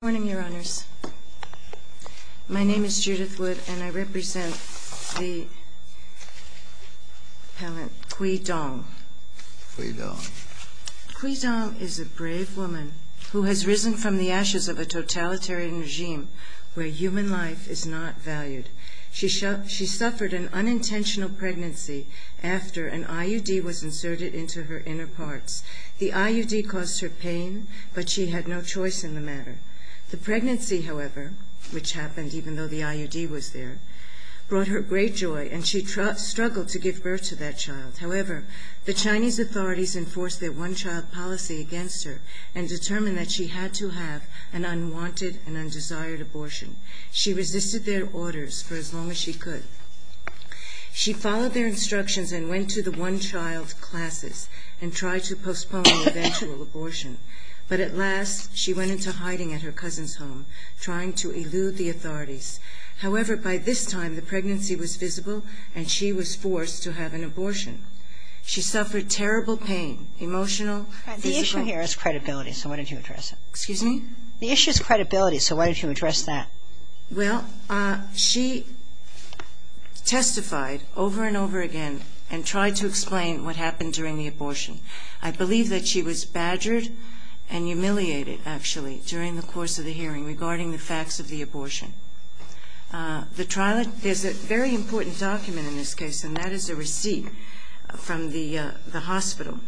Good morning, Your Honors. My name is Judith Wood, and I represent the appellant Gui Dong. Gui Dong. Gui Dong is a brave woman who has risen from the ashes of a totalitarian regime where human life is not valued. She suffered an unintentional pregnancy after an IUD was inserted into her inner parts. The IUD caused her pain, but she had no choice in the matter. The pregnancy, however, which happened even though the IUD was there, brought her great joy, and she struggled to give birth to that child. However, the Chinese authorities enforced their one-child policy against her and determined that she had to have an unwanted and undesired abortion. She resisted their orders for as long as she could. She followed their instructions and went to the one-child classes and tried to postpone the eventual abortion. But at last, she went into hiding at her cousin's home, trying to elude the authorities. However, by this time, the pregnancy was visible, and she was forced to have an abortion. She suffered terrible pain, emotional, physical. The issue here is credibility, so why don't you address it? Excuse me? The issue is credibility, so why don't you address that? Well, she testified over and over again and tried to explain what happened during the abortion. I believe that she was badgered and humiliated, actually, during the course of the hearing regarding the facts of the abortion. There's a very important document in this case, and that is a receipt from the hospital.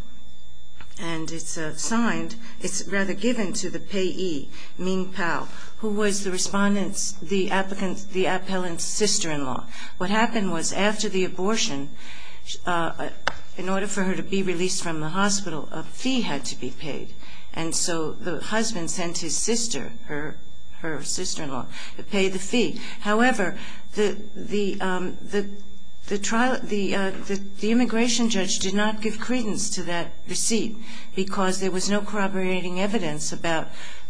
And it's signed. It's rather given to the payee, Ming Pao, who was the applicant's sister-in-law. What happened was after the abortion, in order for her to be released from the hospital, a fee had to be paid. And so the husband sent his sister, her sister-in-law, to pay the fee. However, the immigration judge did not give credence to that receipt, because there was no corroborating evidence about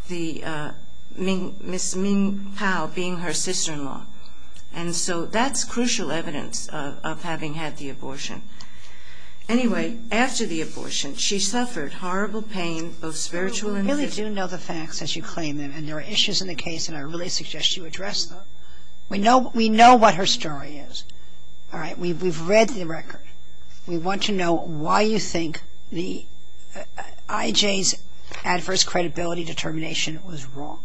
Ms. Ming Pao being her sister-in-law. And so that's crucial evidence of having had the abortion. Anyway, after the abortion, she suffered horrible pain, both spiritual and physical. We do know the facts as you claim them, and there are issues in the case, and I really suggest you address them. We know what her story is. We've read the record. We want to know why you think IJ's adverse credibility determination was wrong.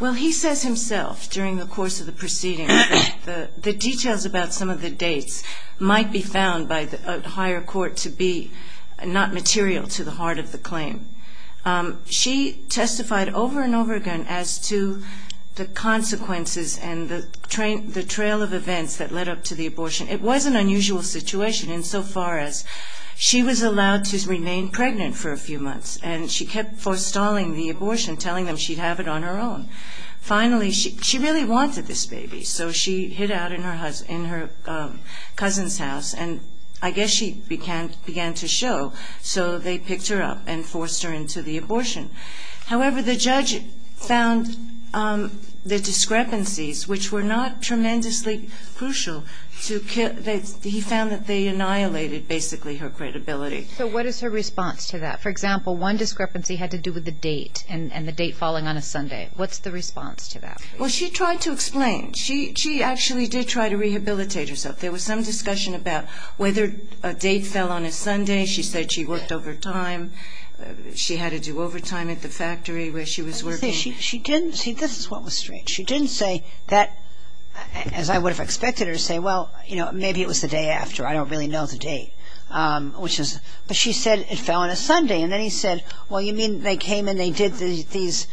Well, he says himself during the course of the proceeding that the details about some of the dates might be found by the higher court to be not material to the heart of the claim. She testified over and over again as to the consequences and the trail of events that led up to the abortion. It was an unusual situation insofar as she was allowed to remain pregnant for a few months, and she kept forestalling the abortion, telling them she'd have it on her own. Finally, she really wanted this baby, so she hid out in her cousin's house, and I guess she began to show, so they picked her up and forced her into the abortion. However, the judge found the discrepancies, which were not tremendously crucial, he found that they annihilated basically her credibility. So what is her response to that? For example, one discrepancy had to do with the date and the date falling on a Sunday. What's the response to that? Well, she tried to explain. She actually did try to rehabilitate herself. There was some discussion about whether a date fell on a Sunday. She said she worked overtime. She had to do overtime at the factory where she was working. She didn't. See, this is what was strange. She didn't say that, as I would have expected her to say, well, you know, maybe it was the day after. I don't really know the date. But she said it fell on a Sunday, and then he said, well, you mean they came and they did these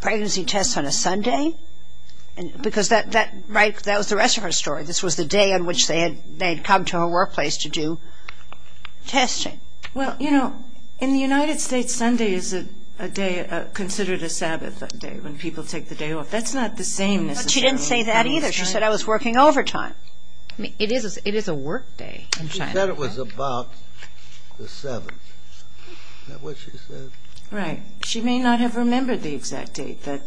pregnancy tests on a Sunday? Because that was the rest of her story. This was the day on which they had come to her workplace to do testing. Well, you know, in the United States, Sunday is considered a Sabbath day when people take the day off. That's not the same necessarily. She didn't say that either. She said, I was working overtime. It is a work day in China. She said it was about the 7th. Is that what she said? Right. She may not have remembered the exact date that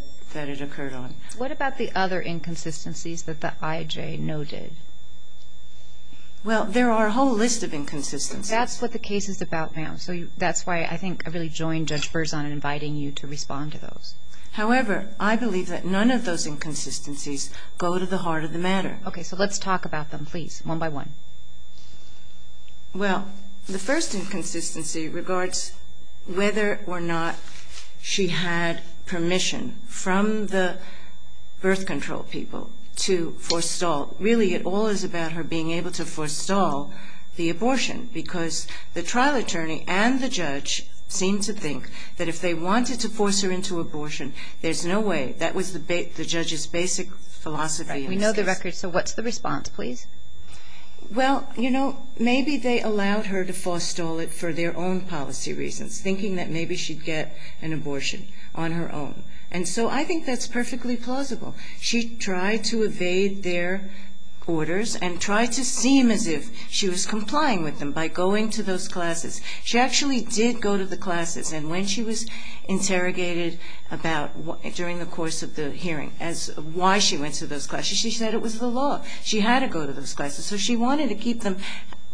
it occurred on. What about the other inconsistencies that the IJ noted? Well, there are a whole list of inconsistencies. That's what the case is about, ma'am. So that's why I think I really joined Judge Berzon in inviting you to respond to those. However, I believe that none of those inconsistencies go to the heart of the matter. Okay, so let's talk about them, please, one by one. Well, the first inconsistency regards whether or not she had permission from the birth control people to forestall. Really, it all is about her being able to forestall the abortion because the trial attorney and the judge seem to think that if they wanted to force her into abortion, there's no way. That was the judge's basic philosophy. Right. We know the record, so what's the response, please? Well, you know, maybe they allowed her to forestall it for their own policy reasons, thinking that maybe she'd get an abortion on her own. And so I think that's perfectly plausible. She tried to evade their orders and tried to seem as if she was complying with them by going to those classes. She actually did go to the classes. And when she was interrogated during the course of the hearing as to why she went to those classes, she said it was the law. She had to go to those classes. So she wanted to keep them,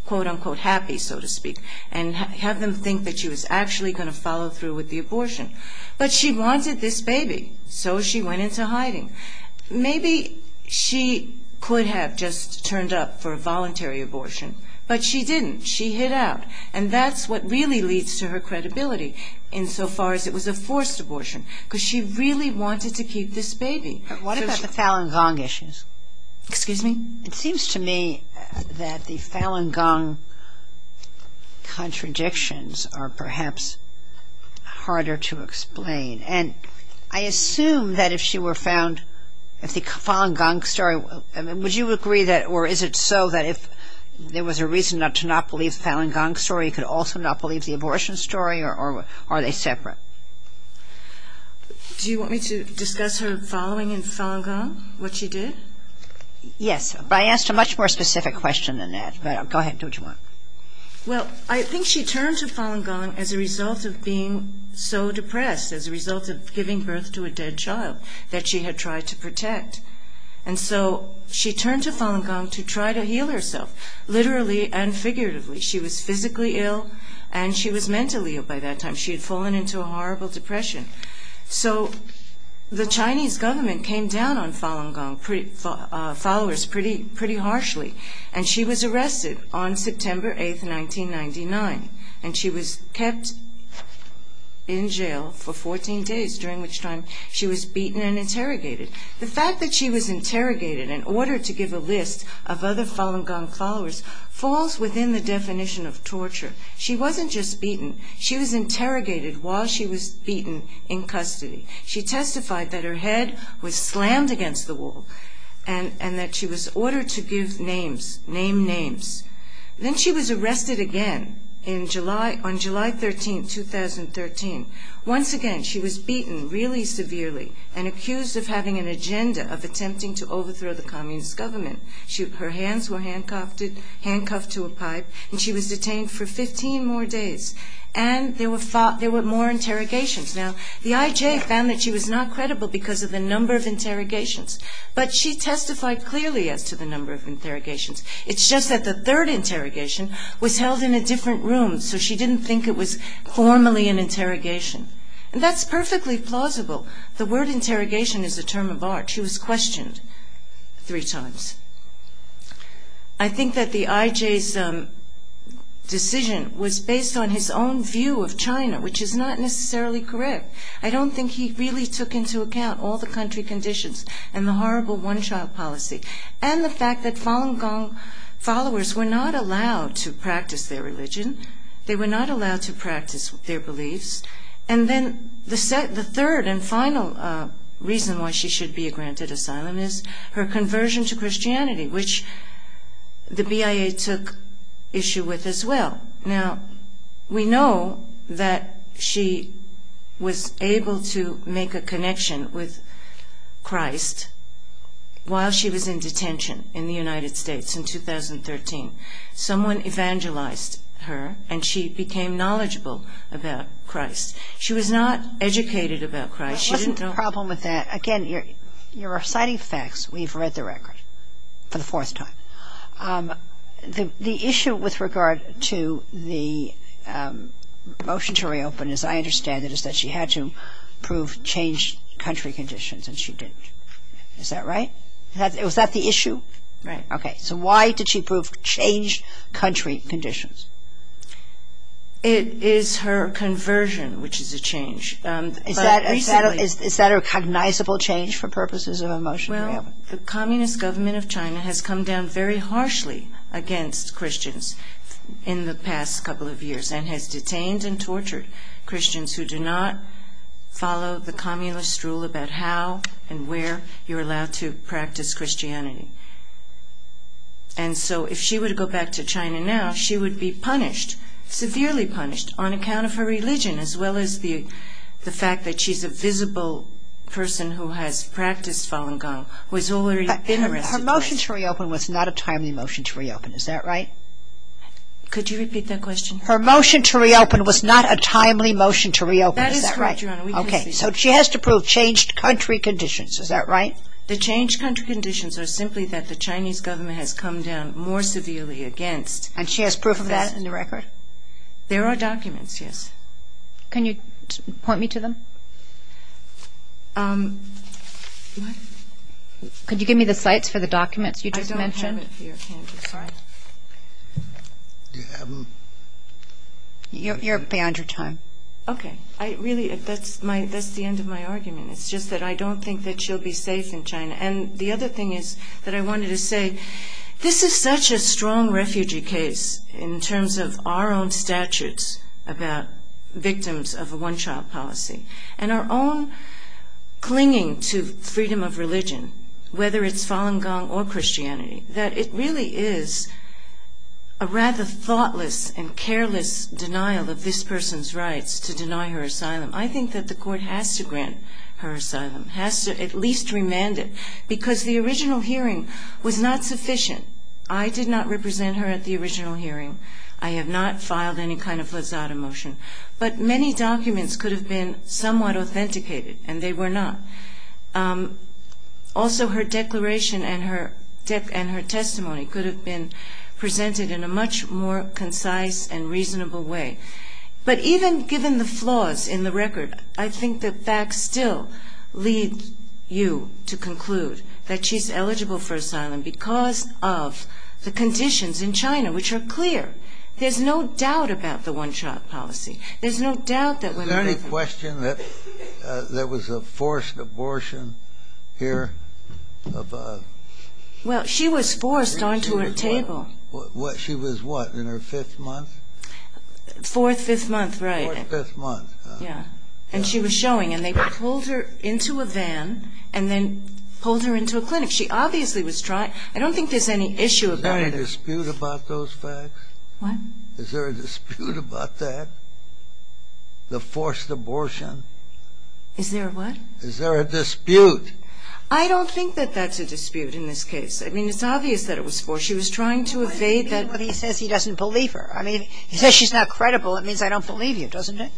quote, unquote, happy, so to speak, and have them think that she was actually going to follow through with the abortion. But she wanted this baby, so she went into hiding. Maybe she could have just turned up for a voluntary abortion, but she didn't. She hid out. And that's what really leads to her credibility insofar as it was a forced abortion because she really wanted to keep this baby. What about the Falun Gong issues? Excuse me? It seems to me that the Falun Gong contradictions are perhaps harder to explain. And I assume that if she were found, if the Falun Gong story, would you agree that, or is it so that if there was a reason to not believe the Falun Gong story, you could also not believe the abortion story, or are they separate? Do you want me to discuss her following in Falun Gong, what she did? Yes, but I asked a much more specific question than that. Go ahead, do what you want. Well, I think she turned to Falun Gong as a result of being so depressed, as a result of giving birth to a dead child that she had tried to protect. And so she turned to Falun Gong to try to heal herself, literally and figuratively. She was physically ill, and she was mentally ill by that time. She had fallen into a horrible depression. So the Chinese government came down on Falun Gong followers pretty harshly, and she was arrested on September 8, 1999. And she was kept in jail for 14 days, during which time she was beaten and interrogated. The fact that she was interrogated in order to give a list of other Falun Gong followers falls within the definition of torture. She wasn't just beaten. She was interrogated while she was beaten in custody. She testified that her head was slammed against the wall, and that she was ordered to give names, name names. Then she was arrested again on July 13, 2013. Once again, she was beaten really severely, and accused of having an agenda of attempting to overthrow the Communist government. Her hands were handcuffed to a pipe, and she was detained for 15 more days. And there were more interrogations. Now, the IJ found that she was not credible because of the number of interrogations, but she testified clearly as to the number of interrogations. It's just that the third interrogation was held in a different room, so she didn't think it was formally an interrogation. And that's perfectly plausible. The word interrogation is a term of art. She was questioned three times. I think that the IJ's decision was based on his own view of China, which is not necessarily correct. I don't think he really took into account all the country conditions and the horrible one-child policy, and the fact that Falun Gong followers were not allowed to practice their religion. They were not allowed to practice their beliefs. And then the third and final reason why she should be granted asylum is her conversion to Christianity, which the BIA took issue with as well. Now, we know that she was able to make a connection with Christ while she was in detention in the United States in 2013. Someone evangelized her, and she became knowledgeable about Christ. She was not educated about Christ. That wasn't the problem with that. Again, you're reciting facts. We've read the record for the fourth time. The issue with regard to the motion to reopen, as I understand it, is that she had to prove changed country conditions, and she didn't. Is that right? Was that the issue? Right. Okay. So why did she prove changed country conditions? It is her conversion, which is a change. Is that a cognizable change for purposes of a motion to reopen? Well, the communist government of China has come down very harshly against Christians in the past couple of years and has detained and tortured Christians who do not follow the communist rule about how and where you're allowed to practice Christianity. And so if she were to go back to China now, she would be punished, severely punished, on account of her religion as well as the fact that she's a visible person who has practiced Falun Gong, who has already been arrested. Her motion to reopen was not a timely motion to reopen. Is that right? Could you repeat that question? Her motion to reopen was not a timely motion to reopen. Is that right? That is correct, Your Honor. Okay. So she has to prove changed country conditions. Is that right? The changed country conditions are simply that the Chinese government has come down more severely against. And she has proof of that in the record? There are documents, yes. Can you point me to them? Could you give me the sites for the documents you just mentioned? I don't have it here. Sorry. You're beyond your time. Okay. Really, that's the end of my argument. It's just that I don't think that she'll be safe in China. And the other thing is that I wanted to say this is such a strong refugee case in terms of our own statutes about victims of a one-child policy and our own clinging to freedom of religion, whether it's Falun Gong or Christianity, that it really is a rather thoughtless and careless denial of this person's rights to deny her asylum. I think that the court has to grant her asylum, has to at least remand it, because the original hearing was not sufficient. I did not represent her at the original hearing. I have not filed any kind of lazada motion. But many documents could have been somewhat authenticated, and they were not. Also, her declaration and her testimony could have been presented in a much more concise and reasonable way. But even given the flaws in the record, I think the facts still lead you to conclude that she's eligible for asylum because of the conditions in China, which are clear. There's no doubt about the one-child policy. Is there any question that there was a forced abortion here? Well, she was forced onto her table. She was what, in her fifth month? Fourth, fifth month, right. Fourth, fifth month. Yeah. And she was showing. And they pulled her into a van and then pulled her into a clinic. She obviously was trying. I don't think there's any issue about it. Is there any dispute about those facts? What? Is there a dispute about that, the forced abortion? Is there a what? Is there a dispute? I don't think that that's a dispute in this case. I mean, it's obvious that it was forced. She was trying to evade that. But he says he doesn't believe her. I mean, he says she's not credible. It means I don't believe you, doesn't it?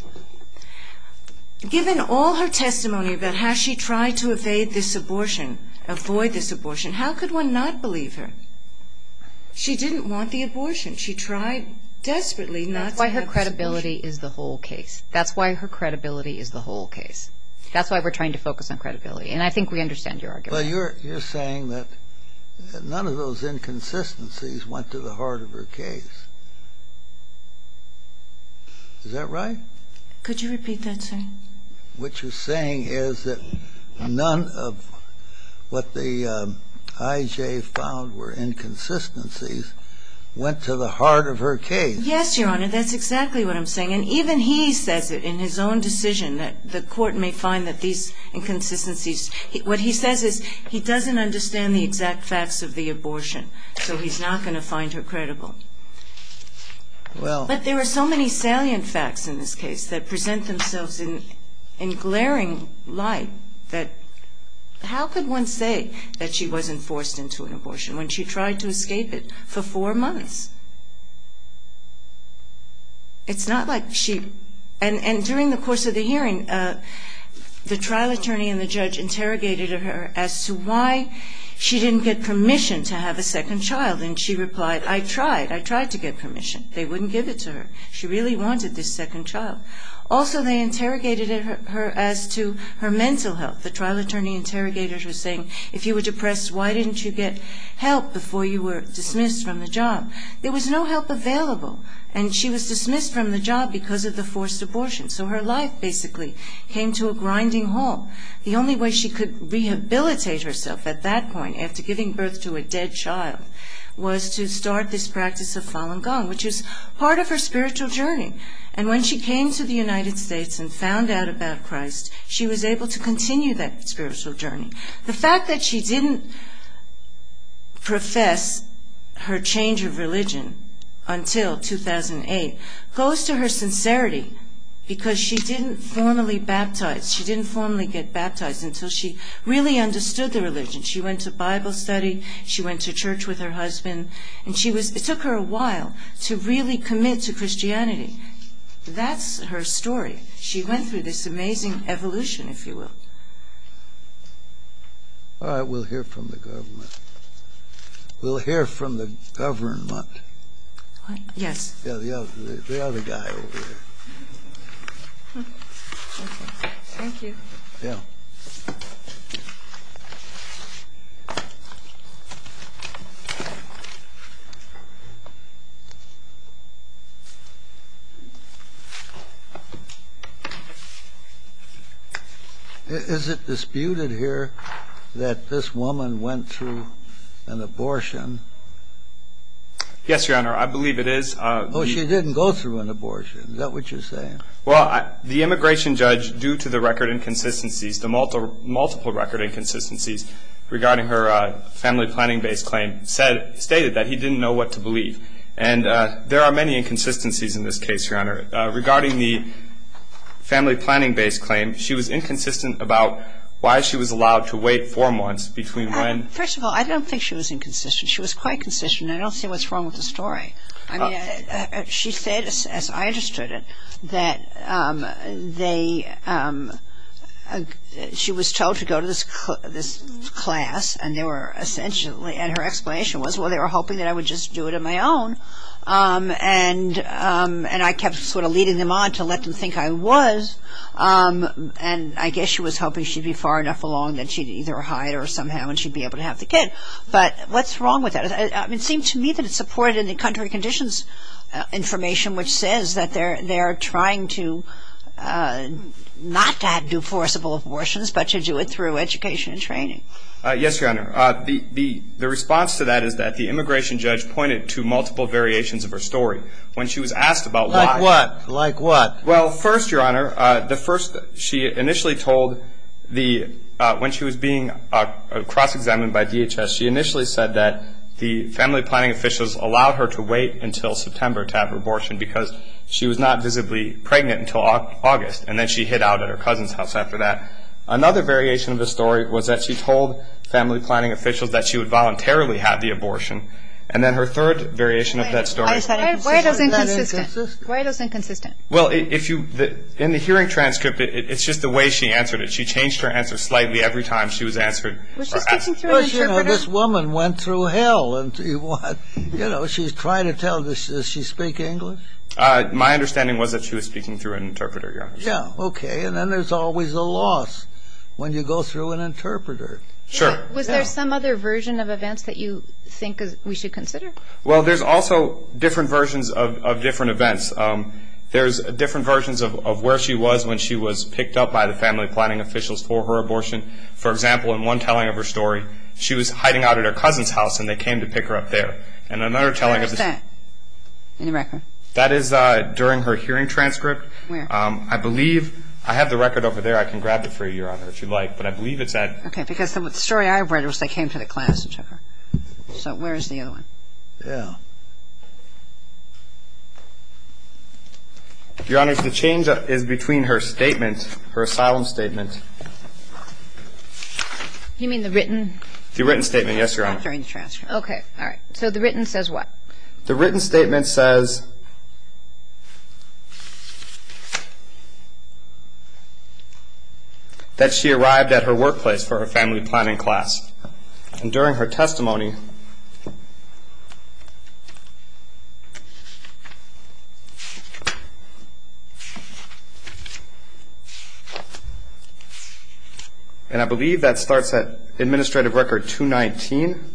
Given all her testimony about how she tried to evade this abortion, avoid this abortion, how could one not believe her? She didn't want the abortion. She tried desperately not to have the abortion. That's why her credibility is the whole case. That's why her credibility is the whole case. That's why we're trying to focus on credibility. And I think we understand your argument. Well, you're saying that none of those inconsistencies went to the heart of her case. Is that right? Could you repeat that, sir? What you're saying is that none of what the I.J. found were inconsistencies went to the heart of her case. Yes, Your Honor. That's exactly what I'm saying. And even he says it in his own decision that the court may find that these inconsistencies What he says is he doesn't understand the exact facts of the abortion, so he's not going to find her credible. But there are so many salient facts in this case that present themselves in glaring light that how could one say that she wasn't forced into an abortion when she tried to escape it for four months? It's not like she... And during the course of the hearing, the trial attorney and the judge interrogated her as to why she didn't get permission to have a second child, and she replied, I tried, I tried to get permission. They wouldn't give it to her. She really wanted this second child. Also, they interrogated her as to her mental health. The trial attorney interrogated her saying, if you were depressed, why didn't you get help before you were dismissed from the job? There was no help available, and she was dismissed from the job because of the forced abortion. So her life basically came to a grinding halt. The only way she could rehabilitate herself at that point, after giving birth to a dead child, was to start this practice of Falun Gong, which is part of her spiritual journey. And when she came to the United States and found out about Christ, she was able to continue that spiritual journey. The fact that she didn't profess her change of religion until 2008 goes to her sincerity, because she didn't formally get baptized until she really understood the religion. She went to Bible study, she went to church with her husband, and it took her a while to really commit to Christianity. That's her story. She went through this amazing evolution, if you will. All right, we'll hear from the government. We'll hear from the government. Yes. The other guy over there. Thank you. Yeah. Is it disputed here that this woman went through an abortion? Yes, Your Honor. I believe it is. Oh, she didn't go through an abortion. Is that what you're saying? Well, the immigration judge, due to the record inconsistencies, the multiple record inconsistencies regarding her family planning-based claim, stated that he didn't know what to believe. And there are many inconsistencies in this case, Your Honor. Regarding the family planning-based claim, she was inconsistent about why she was allowed to wait four months between when. First of all, I don't think she was inconsistent. She was quite consistent, and I don't see what's wrong with the story. She said, as I understood it, that she was told to go to this class, and they were essentially, and her explanation was, well, they were hoping that I would just do it on my own. And I kept sort of leading them on to let them think I was, and I guess she was hoping she'd be far enough along that she'd either hide or somehow she'd be able to have the kid. But what's wrong with that? It seemed to me that it supported the contrary conditions information, which says that they are trying to not to do forcible abortions, Yes, Your Honor. The response to that is that the immigration judge pointed to multiple variations of her story. When she was asked about why. Like what? Like what? Well, first, Your Honor, the first, she initially told the, when she was being cross-examined by DHS, she initially said that the family planning officials allowed her to wait until September to have her abortion because she was not visibly pregnant until August, and then she hid out at her cousin's house after that. Another variation of the story was that she told family planning officials that she would voluntarily have the abortion. And then her third variation of that story. Why is that inconsistent? Why is that inconsistent? Why is that inconsistent? Well, if you, in the hearing transcript, it's just the way she answered it. She changed her answer slightly every time she was answered. Was she speaking through an interpreter? Well, you know, this woman went through hell and, you know, she's trying to tell, does she speak English? My understanding was that she was speaking through an interpreter, Your Honor. Yeah, okay, and then there's always a loss when you go through an interpreter. Sure. Was there some other version of events that you think we should consider? Well, there's also different versions of different events. There's different versions of where she was when she was picked up by the family planning officials for her abortion. For example, in one telling of her story, she was hiding out at her cousin's house and they came to pick her up there. And another telling of the story. Where is that in the record? That is during her hearing transcript. Where? I believe I have the record over there. I can grab it for you, Your Honor, if you'd like, but I believe it's at. Okay, because the story I read was they came to the class and took her. So where is the other one? Yeah. Your Honor, the change is between her statement, her asylum statement. You mean the written? The written statement, yes, Your Honor. During the transcript. Okay, all right. So the written says what? The written statement says that she arrived at her workplace for her family planning class. And during her testimony, And I believe that starts at administrative record 219.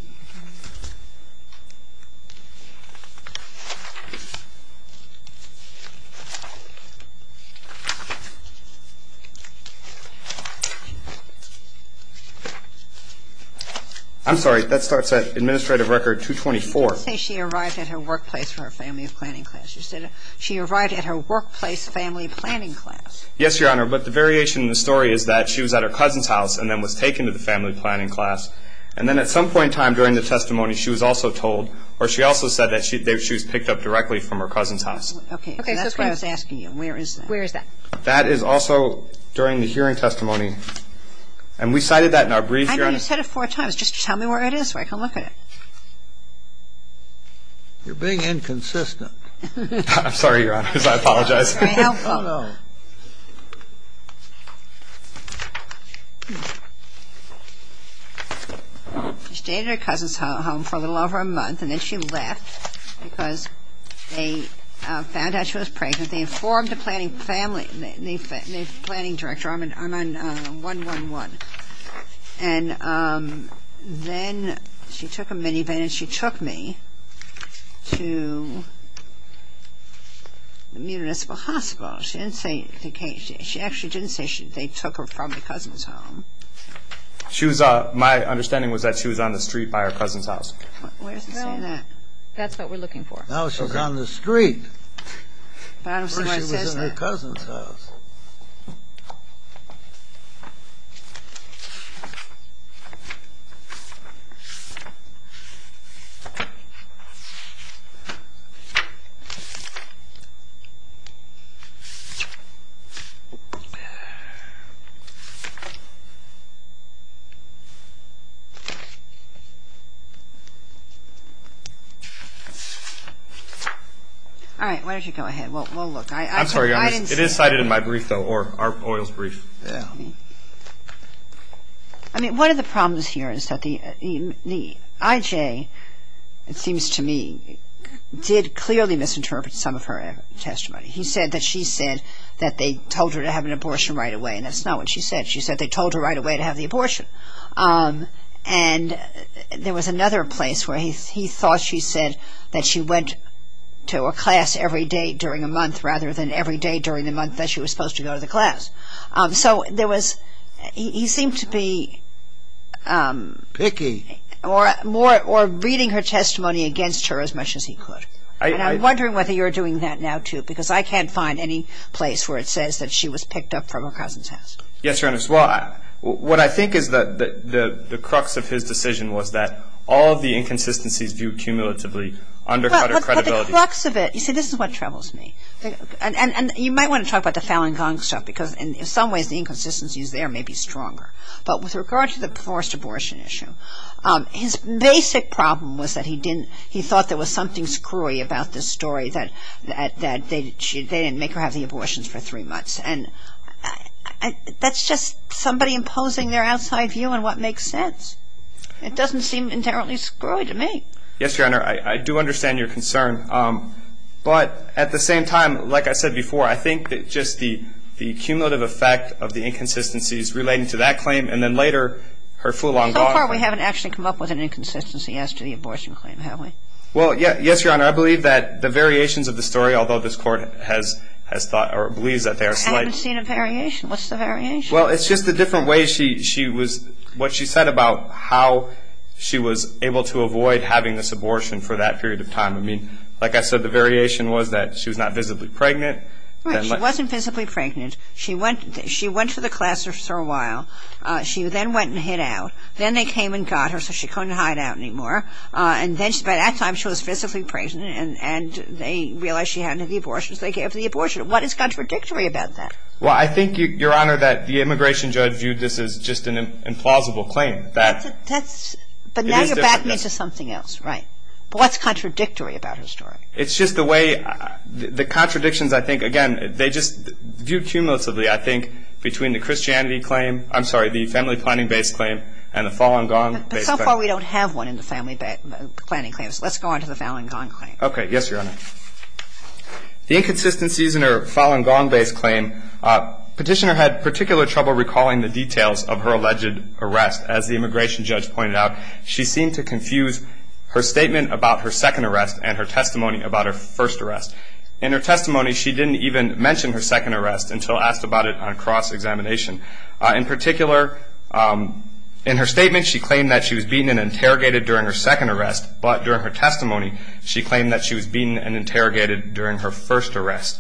I'm sorry, that starts at administrative record 224. You didn't say she arrived at her workplace for her family planning class. You said she arrived at her workplace family planning class. Yes, Your Honor, but the variation in the story is that she was at her cousin's house and then was taken to the family planning class. And then at some point in time during the testimony she was also told or she also said that she was picked up directly from her cousin's house. Okay, that's what I was asking you. Where is that? That is also during the hearing testimony. And we cited that in our brief, Your Honor. I know you said it four times. Just tell me where it is so I can look at it. You're being inconsistent. I'm sorry, Your Honor, I apologize. That's very helpful. She stayed at her cousin's home for a little over a month, and then she left because they found out she was pregnant. They informed the planning director. I'm on 111. And then she took a minivan and she took me to the municipal hospital. She actually didn't say they took her from the cousin's home. My understanding was that she was on the street by her cousin's house. Where does it say that? That's what we're looking for. No, she was on the street. I don't see why it says that. Or she was at her cousin's house. All right. Why don't you go ahead? I'm sorry, Your Honor, it is cited in my brief, though, or Arp Oil's brief. I mean, one of the problems here is that the IJ, it seems to me, did clearly misinterpret some of her testimony. He said that she said that they told her to have an abortion right away, and that's not what she said. She said they told her right away to have the abortion. And there was another place where he thought she said that she went to a class every day during a month rather than every day during the month that she was supposed to go to the class. So there was he seemed to be more reading her testimony against her as much as he could. And I'm wondering whether you're doing that now, too, because I can't find any place where it says that she was picked up from her cousin's house. Yes, Your Honor. Well, what I think is that the crux of his decision was that all of the inconsistencies viewed cumulatively undercut her credibility. But the crux of it, you see, this is what troubles me. And you might want to talk about the Fallon Gong stuff because in some ways the inconsistencies there may be stronger. But with regard to the forced abortion issue, his basic problem was that he thought there was something screwy about this story that they didn't make her have the abortions for three months. And that's just somebody imposing their outside view on what makes sense. It doesn't seem entirely screwy to me. Yes, Your Honor. I do understand your concern. But at the same time, like I said before, I think that just the cumulative effect of the inconsistencies relating to that claim and then later her Fallon Gong. So far we haven't actually come up with an inconsistency as to the abortion claim, have we? Well, yes, Your Honor. I believe that the variations of the story, although this Court has thought or believes that they are slight. We haven't seen a variation. What's the variation? Well, it's just the different ways she was, what she said about how she was able to avoid having this abortion for that period of time. I mean, like I said, the variation was that she was not visibly pregnant. Right. She wasn't visibly pregnant. She went to the classroom for a while. She then went and hid out. Then they came and got her so she couldn't hide out anymore. And by that time she was physically pregnant and they realized she hadn't had the abortion, so they gave her the abortion. What is contradictory about that? Well, I think, Your Honor, that the immigration judge viewed this as just an implausible claim. But now you're backing into something else. Right. But what's contradictory about her story? It's just the way the contradictions, I think, again, they just view cumulatively, I think, between the family planning-based claim and the Fallon Gong-based claim. But so far we don't have one in the family planning claims. Let's go on to the Fallon Gong claim. Okay. Yes, Your Honor. The inconsistencies in her Fallon Gong-based claim, Petitioner had particular trouble recalling the details of her alleged arrest. As the immigration judge pointed out, she seemed to confuse her statement about her second arrest and her testimony about her first arrest. In her testimony she didn't even mention her second arrest until asked about it on cross-examination. In particular, in her statement she claimed that she was beaten and interrogated during her second arrest, but during her testimony she claimed that she was beaten and interrogated during her first arrest.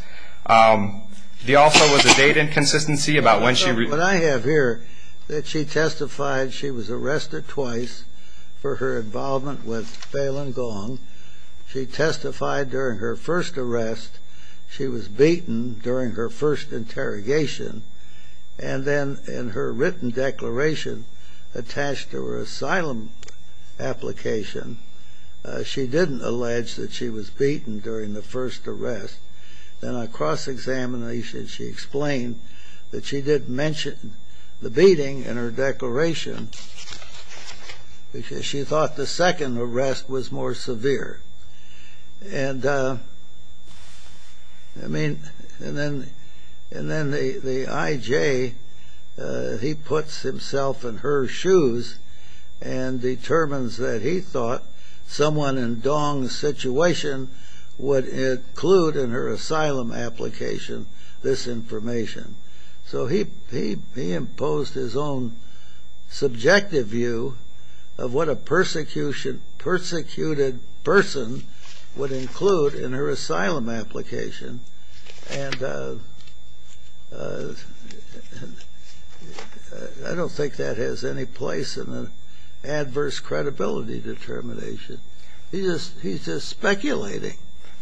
There also was a date inconsistency about when she- What I have here, that she testified she was arrested twice for her involvement with Fallon Gong. She testified during her first arrest. She was beaten during her first interrogation. And then in her written declaration attached to her asylum application, she didn't allege that she was beaten during the first arrest. Then on cross-examination she explained that she didn't mention the beating in her declaration because she thought the second arrest was more severe. And then the I.J., he puts himself in her shoes and determines that he thought someone in Dong's situation would include in her asylum application this information. So he imposed his own subjective view of what a persecuted person would include in her asylum application. And I don't think that has any place in an adverse credibility determination. He's just speculating.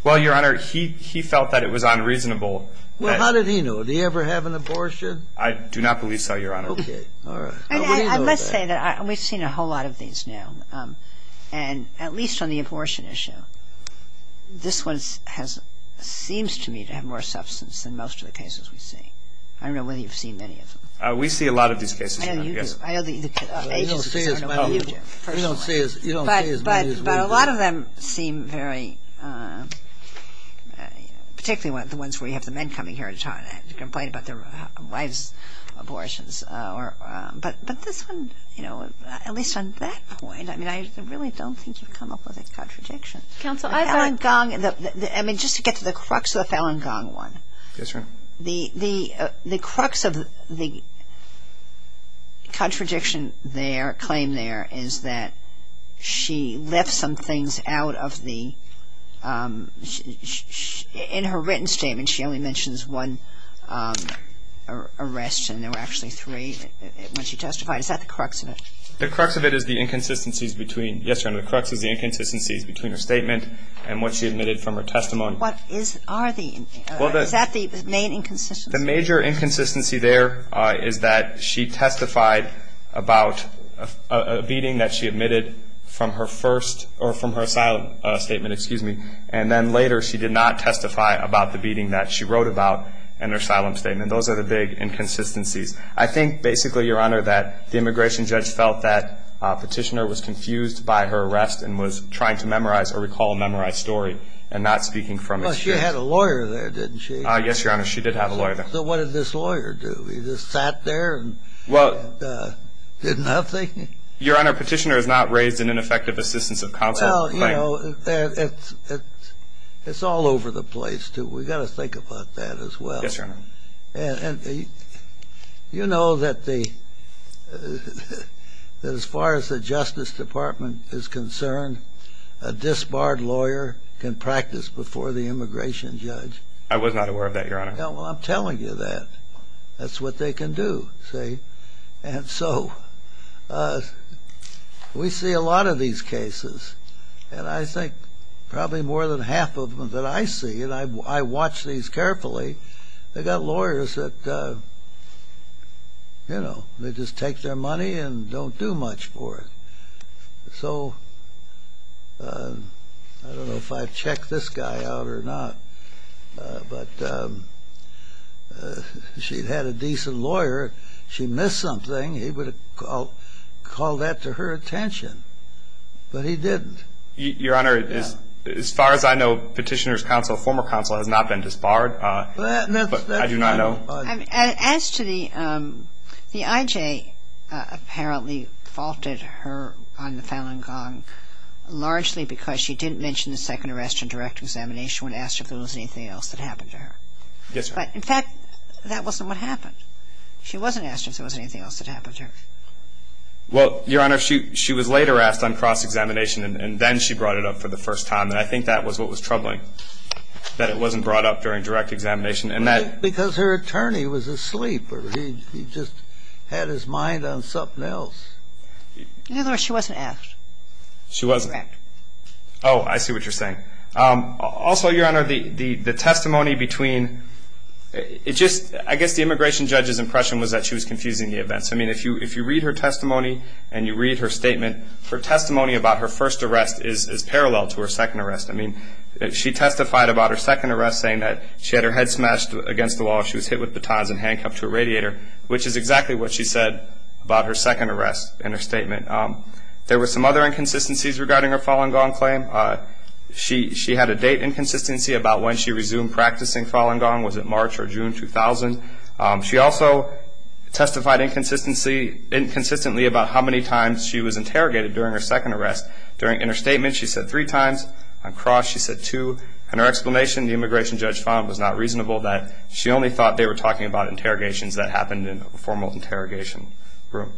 Well, Your Honor, he felt that it was unreasonable. Well, how did he know? Did he ever have an abortion? I do not believe so, Your Honor. Okay. All right. Let's say that we've seen a whole lot of these now. And at least on the abortion issue, this one seems to me to have more substance than most of the cases we've seen. I don't know whether you've seen many of them. We see a lot of these cases, Your Honor. I know you do. You don't see as many as we do. But a lot of them seem very, particularly the ones where you have the men coming here to complain about their wives' abortions. But this one, you know, at least on that point, I mean, I really don't think you've come up with a contradiction. I mean, just to get to the crux of the Falun Gong one. Yes, Your Honor. The crux of the contradiction there, claim there, is that she left some things out of the ‑‑ in her written statement, she only mentions one arrest, and there were actually three when she testified. Is that the crux of it? The crux of it is the inconsistencies between, yes, Your Honor, the crux is the inconsistencies between her statement and what she admitted from her testimony. What are the ‑‑ is that the main inconsistency? The major inconsistency there is that she testified about a beating that she admitted from her first, or from her asylum statement, excuse me, and then later she did not testify about the beating that she wrote about in her asylum statement. Those are the big inconsistencies. I think, basically, Your Honor, that the immigration judge felt that Petitioner was confused by her arrest and was trying to memorize or recall a memorized story and not speaking from experience. Well, she had a lawyer there, didn't she? Yes, Your Honor, she did have a lawyer there. So what did this lawyer do? He just sat there and did nothing? Your Honor, Petitioner is not raised in ineffective assistance of counsel. Well, you know, it's all over the place, too. We've got to think about that as well. Yes, Your Honor. You know that as far as the Justice Department is concerned, a disbarred lawyer can practice before the immigration judge? I was not aware of that, Your Honor. Well, I'm telling you that. That's what they can do, see? And so we see a lot of these cases, and I think probably more than half of them that I see, and I watch these carefully, they've got lawyers that, you know, they just take their money and don't do much for it. So I don't know if I've checked this guy out or not, but if she'd had a decent lawyer, if she missed something, he would have called that to her attention. But he didn't. Your Honor, as far as I know, Petitioner's counsel, former counsel, has not been disbarred. But I do not know. As to the IJ, apparently faulted her on the Falun Gong largely because she didn't mention the second arrest and direct examination when asked if there was anything else that happened to her. Yes, Your Honor. But, in fact, that wasn't what happened. She wasn't asked if there was anything else that happened to her. Well, Your Honor, she was later asked on cross-examination, and then she brought it up for the first time, and I think that was what was troubling, that it wasn't brought up during direct examination. Because her attorney was asleep or he just had his mind on something else. In other words, she wasn't asked. She wasn't. Correct. Oh, I see what you're saying. Also, Your Honor, the testimony between, I guess the immigration judge's impression was that she was confusing the events. I mean, if you read her testimony and you read her statement, her testimony about her first arrest is parallel to her second arrest. I mean, she testified about her second arrest saying that she had her head smashed against the wall, she was hit with batons and handcuffed to a radiator, which is exactly what she said about her second arrest in her statement. There were some other inconsistencies regarding her Falun Gong claim. She had a date inconsistency about when she resumed practicing Falun Gong. Was it March or June 2000? She also testified inconsistently about how many times she was interrogated during her second arrest. In her statement, she said three times. On cross, she said two. In her explanation, the immigration judge found it was not reasonable that she only thought they were talking about interrogations that happened in a formal interrogation room.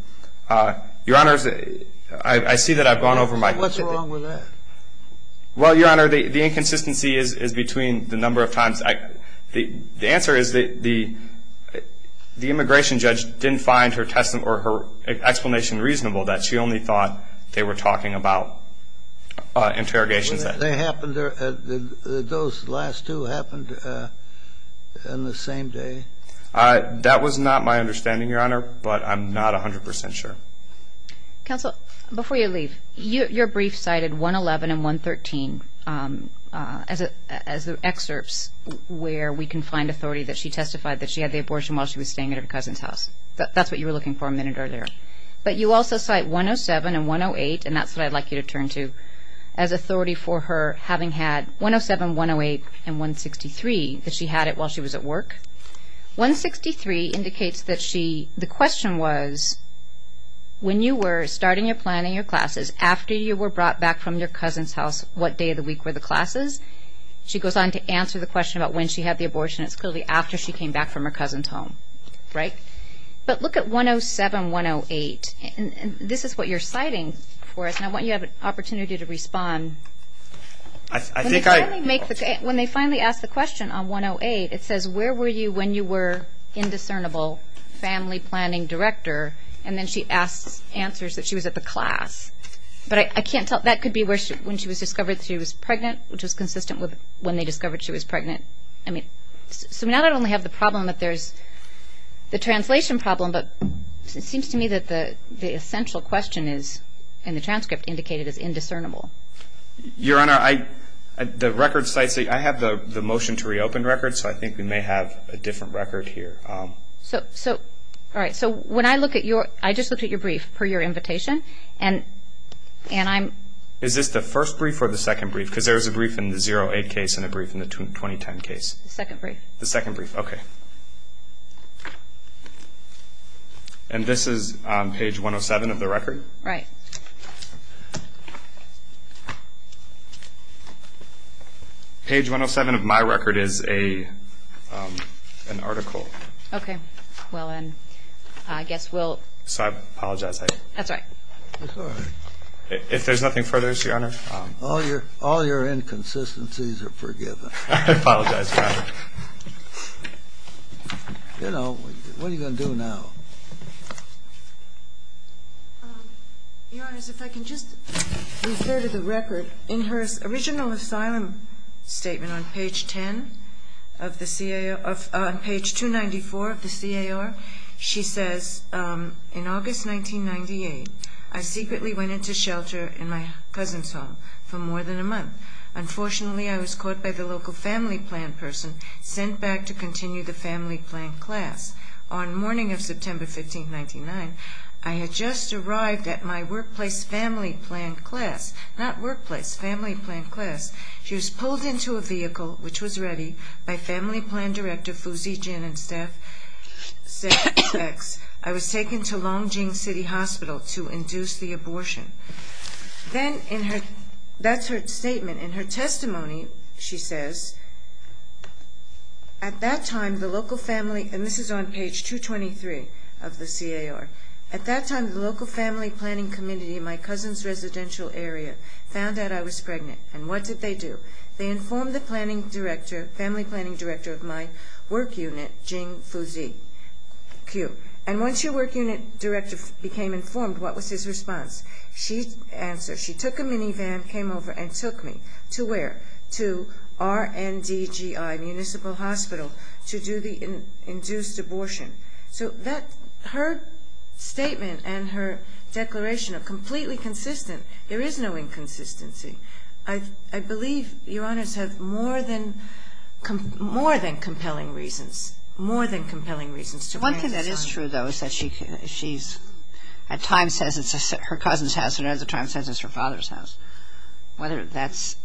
Your Honor, I see that I've gone over my— What's wrong with that? Well, Your Honor, the inconsistency is between the number of times. The answer is the immigration judge didn't find her explanation reasonable that she only thought they were talking about interrogations. When did they happen? Did those last two happen on the same day? That was not my understanding, Your Honor, but I'm not 100% sure. Counsel, before you leave, your brief cited 111 and 113 as the excerpts where we can find authority that she testified that she had the abortion while she was staying at her cousin's house. That's what you were looking for a minute earlier. But you also cite 107 and 108, and that's what I'd like you to turn to, as authority for her having had 107, 108, and 163, that she had it while she was at work. 163 indicates that she—the question was, when you were starting your plan in your classes, after you were brought back from your cousin's house, what day of the week were the classes? She goes on to answer the question about when she had the abortion. It's clearly after she came back from her cousin's home, right? But look at 107, 108, and this is what you're citing for us, and I want you to have an opportunity to respond. I think I— When they finally ask the question on 108, it says, where were you when you were indiscernible family planning director? And then she answers that she was at the class. But I can't tell—that could be when she was discovered she was pregnant, which is consistent with when they discovered she was pregnant. I mean, so now I don't only have the problem that there's the translation problem, but it seems to me that the essential question is, in the transcript, indicated as indiscernible. Your Honor, I—the record cites—I have the motion to reopen records, so I think we may have a different record here. All right. So when I look at your—I just looked at your brief, per your invitation, and I'm— Is this the first brief or the second brief? Because there's a brief in the 08 case and a brief in the 2010 case. The second brief. The second brief. Okay. And this is page 107 of the record? Right. Page 107 of my record is an article. Okay. Well, then, I guess we'll— So I apologize. That's all right. That's all right. If there's nothing further, Your Honor. All your inconsistencies are forgiven. I apologize, Your Honor. You know, what are you going to do now? Your Honor, if I can just refer to the record. In her original asylum statement on page 10 of the CAO—page 294 of the CAR, she says, In August 1998, I secretly went into shelter in my cousin's home for more than a month. Unfortunately, I was caught by the local family plan person, sent back to continue the family plan class. On the morning of September 15, 1999, I had just arrived at my workplace family plan class. Not workplace, family plan class. She was pulled into a vehicle, which was ready, by family plan director Fuzi Jin and staff. I was taken to Longjing City Hospital to induce the abortion. Then in her—that's her statement. In her testimony, she says, At that time, the local family—and this is on page 223 of the CAR— At that time, the local family planning community in my cousin's residential area found out I was pregnant. And what did they do? They informed the family planning director of my work unit, Fuzi Jin. And once your work unit director became informed, what was his response? She took a minivan, came over and took me. To where? To RNDGI, municipal hospital, to do the induced abortion. So that—her statement and her declaration are completely consistent. There is no inconsistency. I believe Your Honors have more than compelling reasons. More than compelling reasons to bring this on. One thing that is true, though, is that she's— at times says it's her cousin's house, and at other times says it's her father's house. Whether that's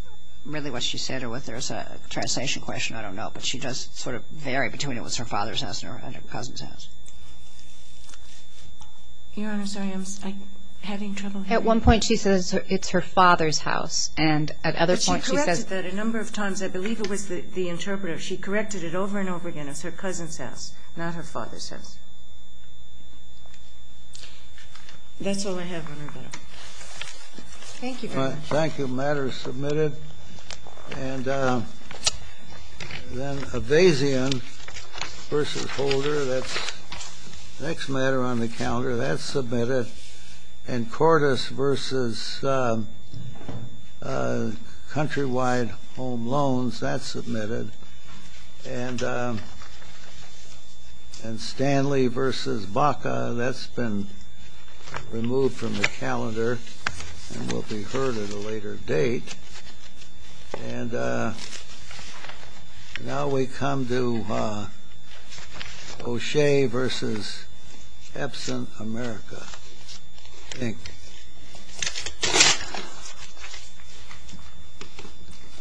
really what she said or whether there's a translation question, I don't know. But she does sort of vary between it was her father's house and her cousin's house. Your Honors, I am having trouble hearing you. At one point she says it's her father's house, and at other points she says— But she corrected that a number of times. I believe it was the interpreter. She corrected it over and over again. It's her cousin's house, not her father's house. That's all I have on her, Your Honor. Thank you very much. Thank you. Matter is submitted. Then Avazian v. Holder. That's the next matter on the calendar. That's submitted. And Cordes v. Countrywide Home Loans. That's submitted. And Stanley v. Baca. That's been removed from the calendar and will be heard at a later date. And now we come to O'Shea v. Epson, America. Thank you.